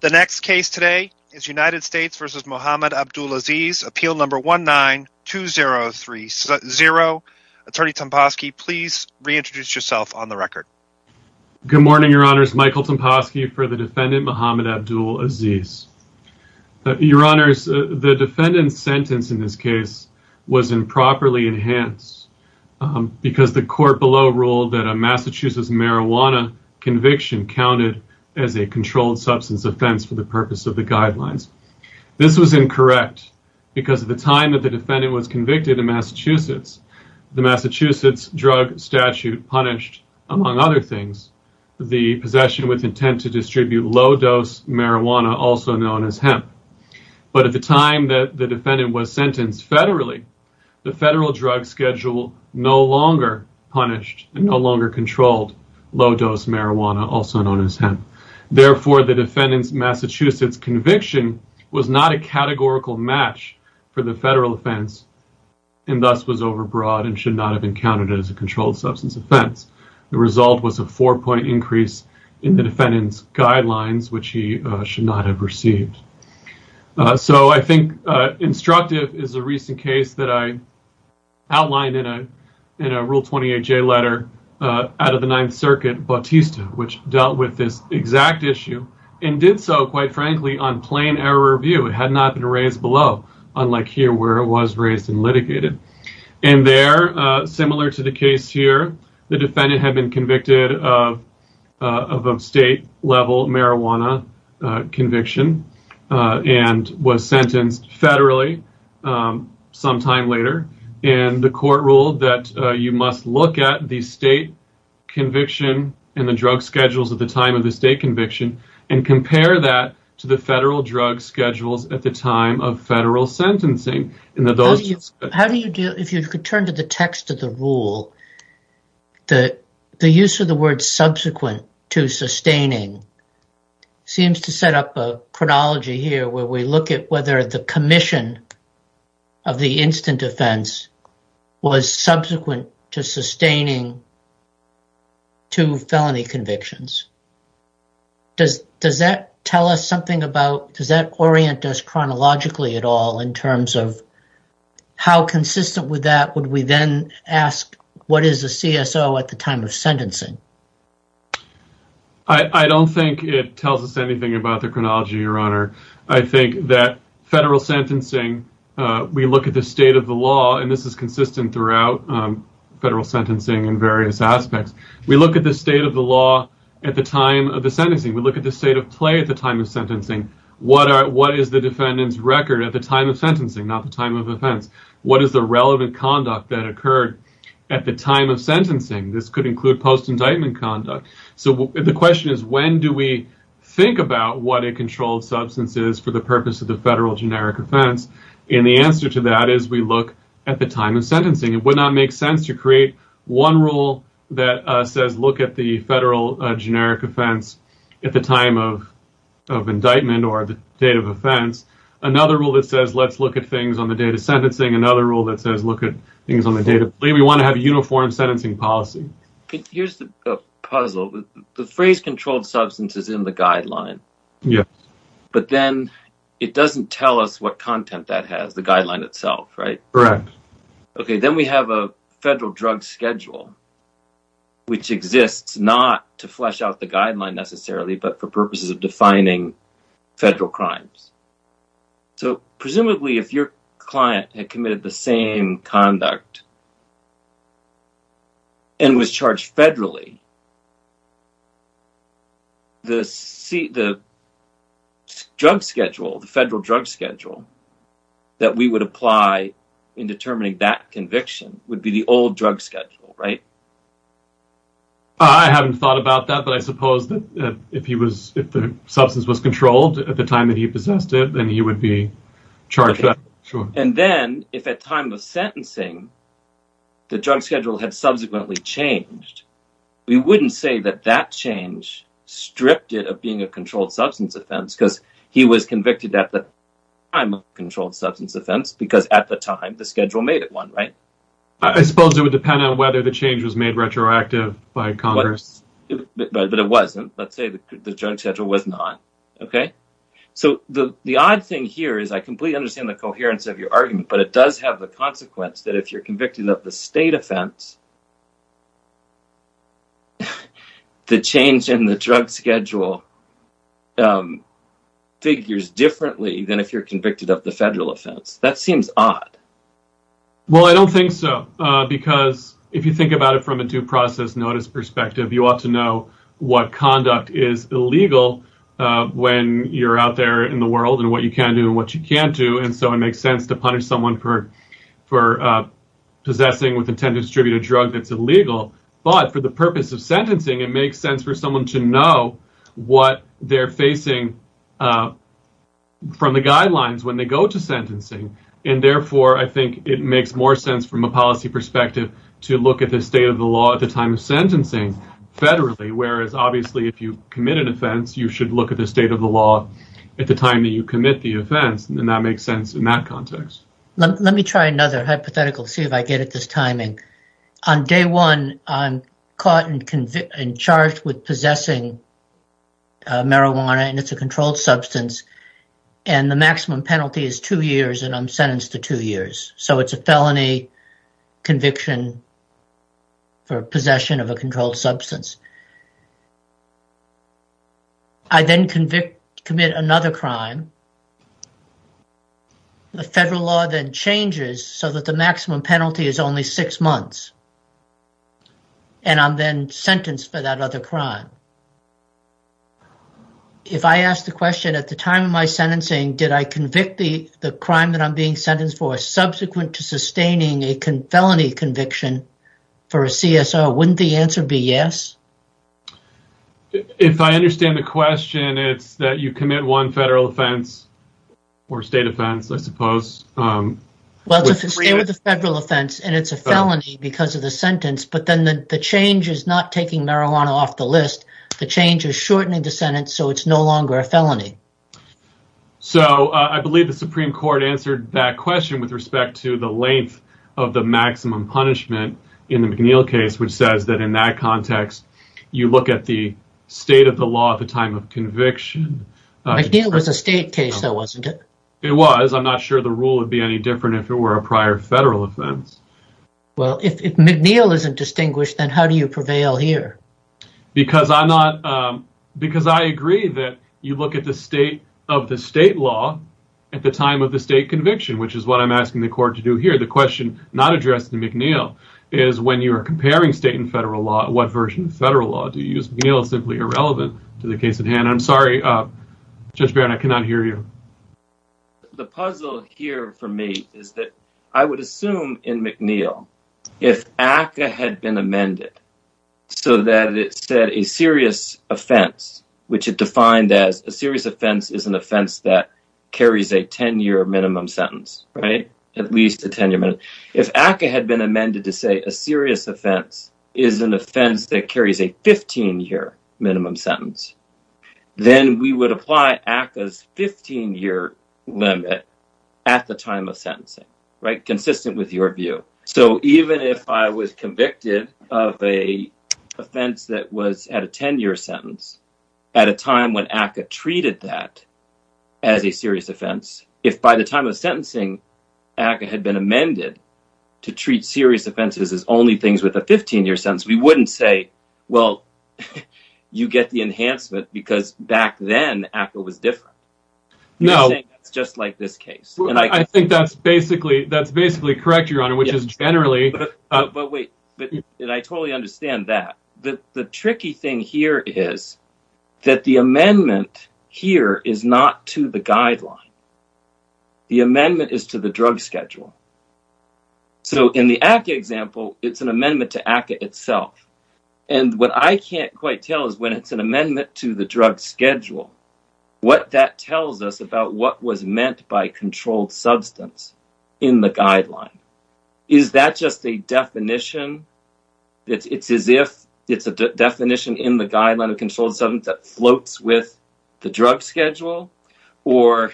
The next case today is United States v. Muhammad Abdulaziz, Appeal No. 19-2030. Attorney Tomposky, please reintroduce yourself on the record. Good morning, Your Honors. Michael Tomposky for the defendant, Muhammad Abdulaziz. Your Honors, the defendant's sentence in this case was improperly enhanced because the court below ruled that a Massachusetts marijuana conviction counted as a controlled substance offense for the purpose of the guidelines. This was incorrect because at the time that the defendant was convicted in Massachusetts, the Massachusetts drug statute punished, among other things, the possession with intent to distribute low-dose marijuana, also known as hemp. But at the time that the defendant was sentenced federally, the federal drug schedule no longer punished and no longer controlled low-dose marijuana, also known as hemp. Therefore, the defendant's Massachusetts conviction was not a categorical match for the federal offense and thus was overbroad and should not have been counted as a controlled substance offense. The result was a four-point increase in the defendant's guidelines, which he should not have received. So, I think instructive is a recent case that I outlined in a Rule 28J letter out of the Ninth Circuit, Bautista, which dealt with this exact issue and did so, quite frankly, on plain error of view. It had not been raised below, unlike here where it was raised and litigated. And there, similar to the case here, the defendant had been convicted of a state-level marijuana conviction and was sentenced federally sometime later and the court ruled that you must look at the state conviction and the drug schedules at the time of the state conviction and compare that to the federal drug schedules at the The use of the word subsequent to sustaining seems to set up a chronology here where we look at whether the commission of the instant offense was subsequent to sustaining two felony convictions. Does that tell us something about, does that orient us chronologically at all in terms of how consistent with that would we then ask what is a CSO at the time of sentencing? I don't think it tells us anything about the chronology, Your Honor. I think that federal sentencing, we look at the state of the law, and this is consistent throughout federal sentencing in various aspects. We look at the state of the law at the time of the sentencing. We look at the state of play at the time of sentencing. What is the defendant's record at the time of sentencing, not the time of offense? What is the relevant conduct that occurred at the time of sentencing? This could include post-indictment conduct. So the question is when do we think about what a controlled substance is for the purpose of the federal generic offense? And the answer to that is we look at the time of sentencing. It would not make sense to create one rule that says look at the federal generic offense at the time of indictment or the date of offense, another rule that says let's look at things on the date of sentencing, another rule that says look at things on the date of play. We want to have a uniform sentencing policy. Here's the puzzle. The phrase controlled substance is in the guideline, but then it doesn't tell us what content that has, the guideline itself, right? Correct. Okay, then we have a federal drug schedule, which exists not to flesh out the guideline necessarily but for purposes of defining federal crimes. So presumably if your client had committed the same conduct and was charged federally, the drug schedule, the federal drug schedule that we would apply in determining that conviction would be the old drug schedule, right? I haven't thought about that, but I suppose that if the substance was controlled at the time that he possessed it, then he would be charged. And then if at time of sentencing the drug schedule had subsequently changed, we wouldn't say that that change stripped it of being a controlled substance offense because he was convicted at the time of controlled substance offense because at the time the schedule made it one, right? I suppose it would depend on whether the change was made retroactive by Congress. But it wasn't. Let's say the drug schedule was not. So the odd thing here is I completely understand the coherence of your argument, but it does have the consequence that if you're convicted of the state offense, the change in the drug schedule figures differently than if you're convicted of the federal offense. That seems odd. Well, I don't think so, because if you think about it from a due process notice perspective, you ought to know what conduct is illegal when you're out there in the world and what you can do and what you can't do. And so it makes sense to punish someone for possessing with intent to distribute a drug that's illegal. But for the purpose of sentencing, it makes sense for someone to know what they're facing from the guidelines when they go to sentencing and therefore I think it makes more sense from a policy perspective to look at the state of the law at the time of sentencing federally, whereas obviously if you commit an offense, you should look at the state of the law at the time that you commit the offense and that makes sense in that context. Let me try another hypothetical to see if I get at this timing. On day one, I'm caught and charged with possessing marijuana and it's a controlled substance and the maximum penalty is two years and I'm sentenced to two years. So it's a felony conviction for possession of a controlled substance. I then commit another crime. The federal law then changes so that the maximum penalty is only six months and I'm then sentenced for that other crime. If I ask the question at the time of my sentencing, did I convict the crime that I'm being sentenced for subsequent to sustaining a felony conviction for a CSO, wouldn't the answer be yes? If I understand the question, it's that you commit one federal offense or state offense, I suppose. Well, if it's a federal offense and it's a felony because of the sentence, but then the change is not taking marijuana off the list. The change is shortening the sentence so it's no longer a felony. So I believe the Supreme Court answered that question with respect to the length of the maximum punishment in the McNeil case which says that in that context, you look at the state of the law at the time of conviction. McNeil was a state case though, wasn't it? It was. I'm not sure the rule would be any different if it were a prior federal offense. Well, if McNeil isn't distinguished, then how do you prevail here? Because I agree that you look at the state of the state law at the time of the state conviction which is what I'm asking the court to do here. The question not addressed in McNeil is when you are comparing state and federal law, what version of federal law do you use? McNeil is simply irrelevant to the case at hand. I'm sorry, Judge Barron, I cannot hear you. The puzzle here for me is that I would assume in McNeil, if ACCA had been amended so that it said a serious offense, which it defined as a serious offense is an offense that carries a 10-year minimum sentence, right? At least a 10-year minimum. If ACCA had been amended to say a serious offense is an offense that carries a 15-year minimum sentence, then we would apply ACCA's 15-year limit at the time of sentencing, right? Consistent with your view. So even if I was convicted of an offense that was at a 10-year sentence at a time when ACCA treated that as a serious offense, if by the time of sentencing ACCA had been amended to treat serious offenses as only things with a 15-year sentence, we wouldn't say, well, you get the enhancement because back then ACCA was different. You're saying it's just like this case. I think that's basically correct, Your Honor, which is generally... But wait, I totally understand that. The tricky thing here is that the amendment here is not to the guideline. The amendment is to the drug schedule. So in the ACCA example, it's an amendment to ACCA itself. And what I can't quite tell is when it's an amendment to the drug schedule, what that tells us about what was meant by controlled substance in the guideline. Is that just a definition? It's as if it's a definition in the guideline of controlled substance that floats with the drug schedule? Or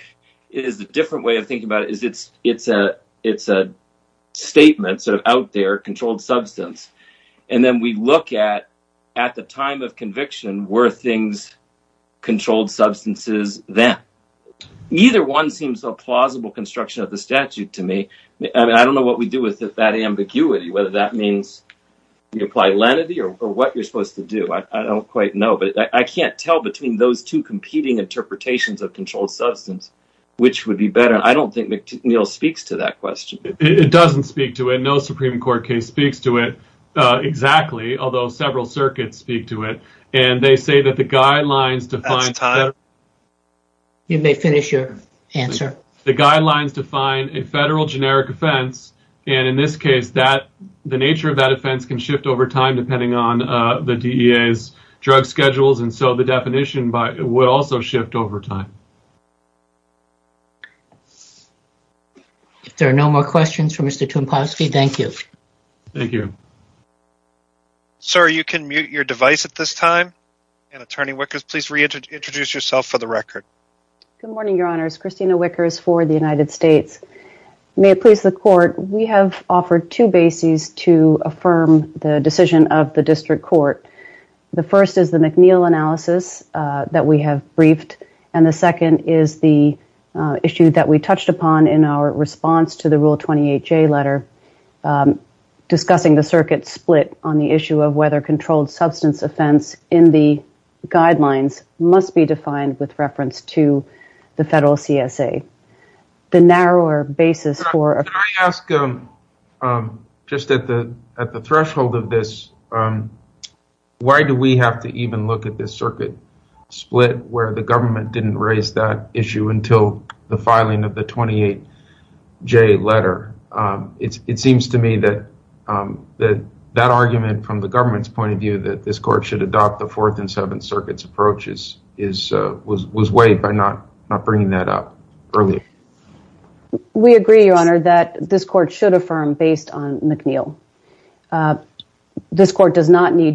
is it a different way of thinking about it? It's a statement sort of out there, controlled substance. And then we look at, at the time of conviction, were things controlled substances then? Neither one seems a plausible construction of the statute to me. I don't know what we do with that ambiguity, whether that means you apply lenity or what you're supposed to do. I don't quite know, but I can't tell between those two competing interpretations of controlled substance, which would be better. I don't think Neil speaks to that question. It doesn't speak to it. No Supreme Court case speaks to it exactly, although several circuits speak to it. And they say that the guidelines define... You may finish your answer. The guidelines define a federal generic offense. And in this case, the nature of that offense can shift over time depending on the DEA's drug schedules. And so definition will also shift over time. If there are no more questions for Mr. Toomposky, thank you. Thank you. Sir, you can mute your device at this time. And Attorney Wickers, please reintroduce yourself for the record. Good morning, Your Honors. Christina Wickers for the United States. May it please the court, we have offered two bases to affirm the decision of the district court. The first is the McNeil analysis that we have briefed. And the second is the issue that we touched upon in our response to the Rule 28J letter discussing the circuit split on the issue of whether controlled substance offense in the guidelines must be defined with reference to the federal CSA. The narrower basis for... Can I ask just at the threshold of this, why do we have to even look at this circuit split where the government didn't raise that issue until the filing of the 28J letter? It seems to me that that argument from the government's point of view that this court should adopt the Fourth and Seventh Circuit's approaches was weighed by not bringing that up earlier. We agree, Your Honor, that this court should need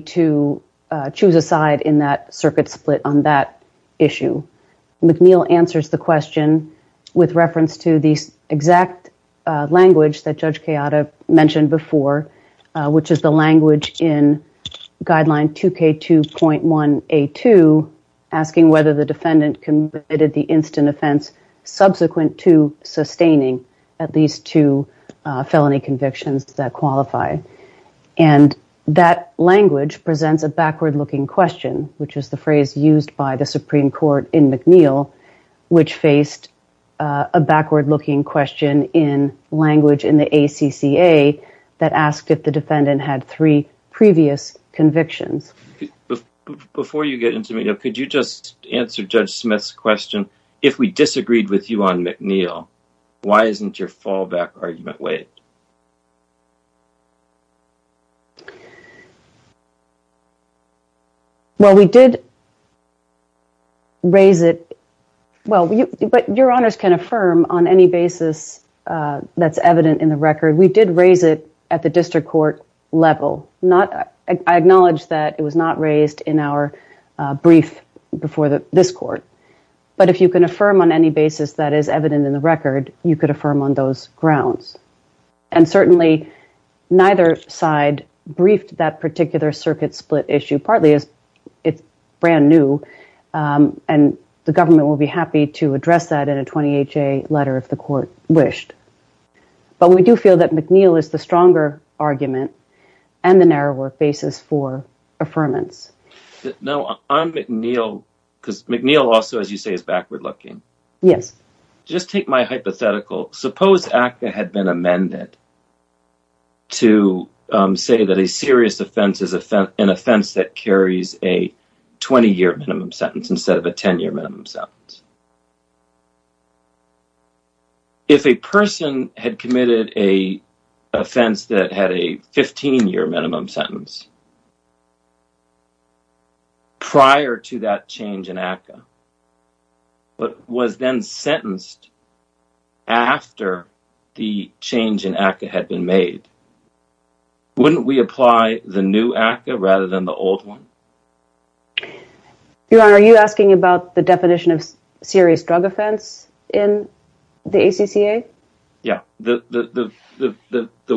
to choose a side in that circuit split on that issue. McNeil answers the question with reference to the exact language that Judge Chiara mentioned before, which is the language in Guideline 2K2.1A2 asking whether the defendant committed the instant offense subsequent to sustaining at least two felony convictions that qualify. And that language presents a backward-looking question, which is the phrase used by the Supreme Court in McNeil, which faced a backward-looking question in language in the ACCA that asked if the defendant had three previous convictions. Before you get into it, could you just answer Judge Smith's question? If we disagreed with you on McNeil, why isn't your fallback argument weighed? Well, we did raise it, but Your Honors can affirm on any basis that's evident in the record. We did raise it at the district court level. I acknowledge that it was not raised in our brief before this court, but if you can affirm on any basis that is evident in the record, you could affirm on those grounds. And certainly, neither side briefed that particular circuit split issue, partly as it's brand new, and the government will be happy to address that in a 28-J letter if the court wished. But we do feel that McNeil is the stronger argument and the narrower basis for affirmance. Suppose ACCA had been amended to say that a serious offense is an offense that carries a 20-year minimum sentence instead of a 10-year minimum sentence. If a person had committed an offense that had a 15-year minimum sentence, prior to that change in ACCA, but was then sentenced after the change in ACCA had been made, wouldn't we apply the new ACCA rather than the old one? Your Honor, are you asking about the definition of serious drug offense in the ACCA? Yeah. The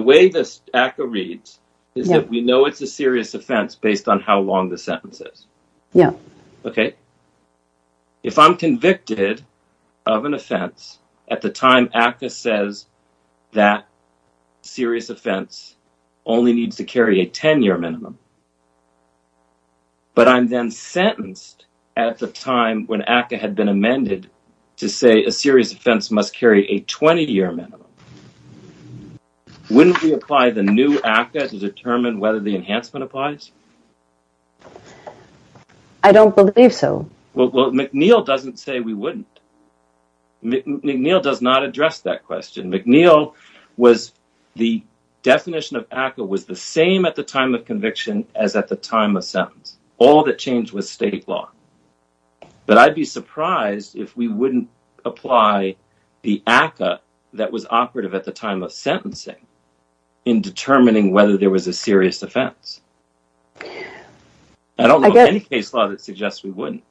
way this ACCA reads is that we know it's a serious offense based on how long the sentence is. Okay. If I'm convicted of an offense at the time ACCA says that serious offense only needs to carry a 10-year minimum, but I'm then sentenced at the time when ACCA had been amended to say a serious offense must carry a 20-year minimum, wouldn't we apply the new ACCA to determine whether the enhancement applies? I don't believe so. Well, McNeil doesn't say we wouldn't. McNeil does not address that question. McNeil was—the definition of ACCA was the same at the time of conviction as at the time of we wouldn't apply the ACCA that was operative at the time of sentencing in determining whether there was a serious offense. I don't know of any case law that suggests we wouldn't.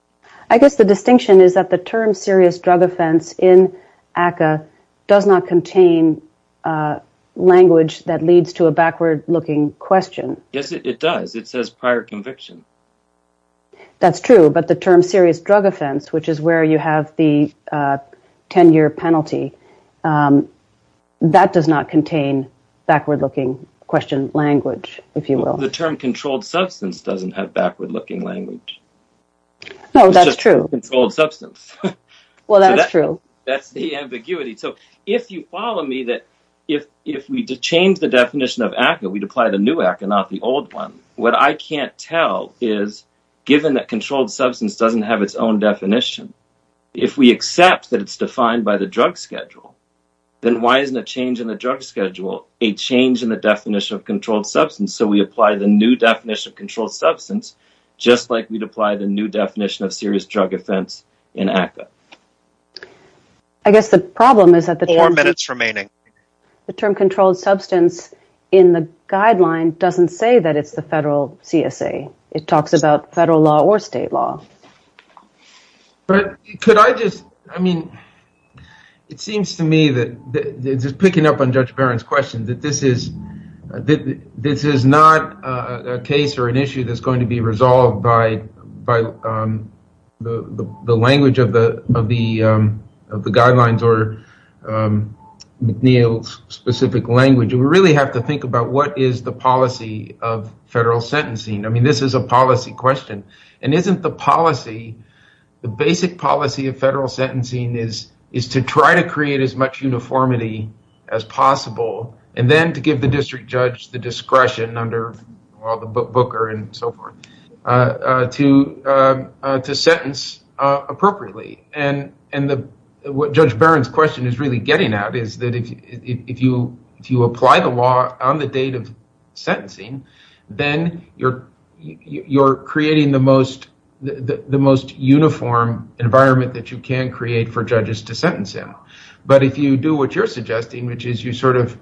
I guess the distinction is that the term serious drug offense in ACCA does not contain language that leads to a backward-looking question. Yes, it does. It says prior conviction. That's true, but the term serious drug offense, which is where you have the 10-year penalty, that does not contain backward-looking question language, if you will. The term controlled substance doesn't have backward-looking language. No, that's true. It's just controlled substance. Well, that's true. That's the ambiguity. So, if you follow me, that if we change the definition of ACCA, we'd apply the new ACCA, not the old one. What I can't tell is, given that controlled substance doesn't have its own definition, if we accept that it's defined by the drug schedule, then why isn't a change in the drug schedule a change in the definition of controlled substance? So, we apply the new definition of controlled substance, just like we'd apply the new definition of serious drug offense in ACCA. I guess the problem is that— Four minutes remaining. The term controlled substance in the guideline doesn't say that it's the federal CSA. It talks about federal law or state law. But could I just—I mean, it seems to me that, just picking up on Judge Barron's question, that this is not a case or an issue that's going to be resolved by the language of the guidelines or McNeil's specific language. We really have to think about what is the policy of federal sentencing. I mean, this is a policy question. And isn't the policy—the basic policy of federal sentencing is to try to create as much uniformity as possible, and then to give the district judge the discretion under the booker and so forth, to sentence appropriately. And what Judge Barron's question is really getting at is that if you apply the law on the date of sentencing, then you're creating the most uniform environment that you can create for judges to sentence him. But if you do what you're suggesting, which is you sort of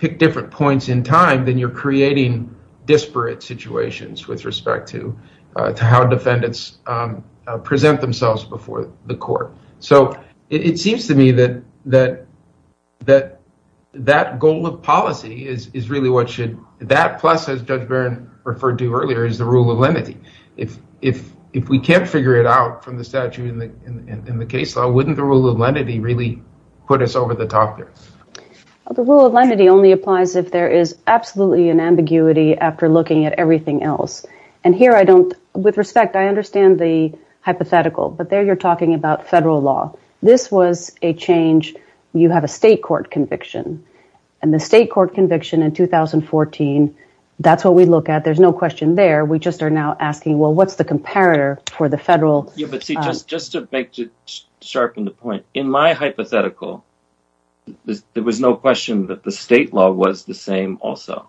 pick different points in time, then you're creating disparate situations with respect to how defendants present themselves before the court. So it seems to me that that goal of policy is really what should—that plus, as Judge Barron referred to earlier, is the rule of lenity. If we can't figure it out from the in the case law, wouldn't the rule of lenity really put us over the top here? The rule of lenity only applies if there is absolutely an ambiguity after looking at everything else. And here I don't—with respect, I understand the hypothetical, but there you're talking about federal law. This was a change—you have a state court conviction. And the state court conviction in 2014, that's what we look at. There's no question there. We just are now asking, well, what's the comparator for the federal— Yeah, but see, just to sharpen the point, in my hypothetical, there was no question that the state law was the same also.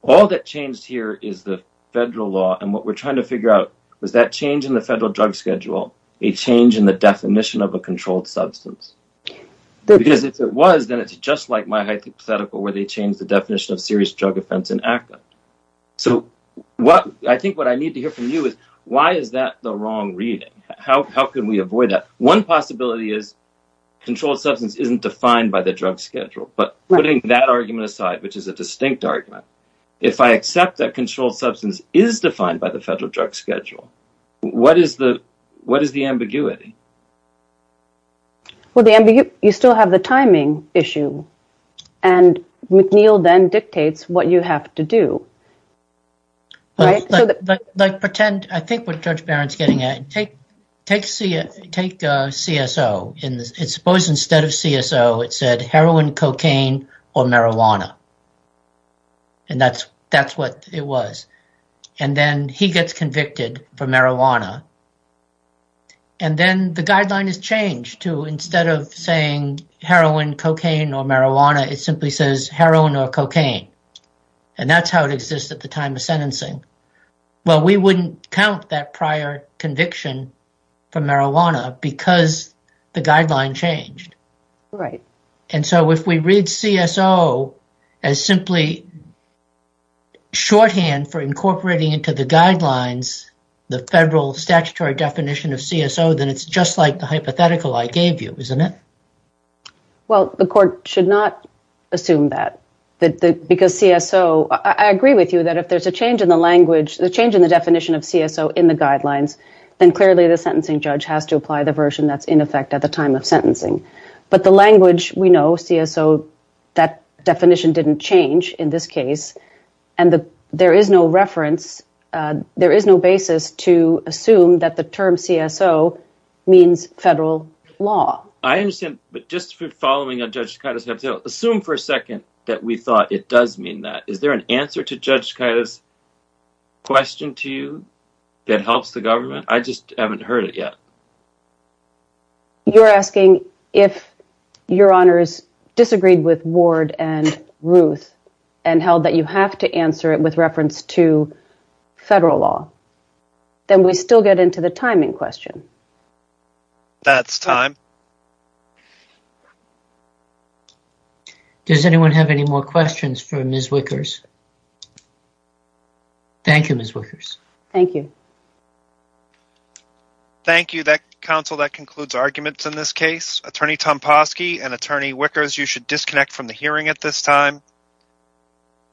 All that changed here is the federal law. And what we're trying to figure out was that change in the federal drug schedule, a change in the definition of a controlled substance. Because if it was, then it's just like my hypothetical where they changed the definition of serious drug offense in ACCA. So I think what I need to hear from you is why is that the wrong reading? How can we avoid that? One possibility is controlled substance isn't defined by the drug schedule. But putting that argument aside, which is a distinct argument, if I accept that controlled substance is defined by the federal drug schedule, what is the ambiguity? Well, you still have the timing issue. And McNeil then dictates what you have to do. I think what Judge Barron's getting at, take CSO. Suppose instead of CSO, it said heroin, cocaine, or marijuana. And that's what it was. And then he gets convicted for marijuana. And then the guideline is changed to instead of saying heroin, cocaine, or marijuana, it simply says heroin or cocaine. And that's how it exists at the time of sentencing. Well, we wouldn't count that prior conviction for marijuana because the guideline changed. And so if we read CSO as simply shorthand for incorporating into the guidelines, the federal statutory definition of CSO, then it's just like the hypothetical I gave you, isn't it? Well, the court should not assume that. Because CSO, I agree with you that if there's a change in the language, the change in the definition of CSO in the guidelines, then clearly the sentencing judge has to apply the that definition didn't change in this case. And there is no reference. There is no basis to assume that the term CSO means federal law. I understand. But just following on Judge Tkaitis' hypothetical, assume for a second that we thought it does mean that. Is there an answer to Judge Tkaitis' question to you that helps the government? I just haven't heard it yet. You're asking if your honors disagreed with Ward and Ruth and held that you have to answer it with reference to federal law. Then we still get into the timing question. That's time. Does anyone have any more questions for Ms. Wickers? Thank you, Ms. Wickers. Thank you. Thank you, counsel. That concludes arguments in this case. Attorney Tomposki and Attorney Wickers, you should disconnect from the hearing at this time.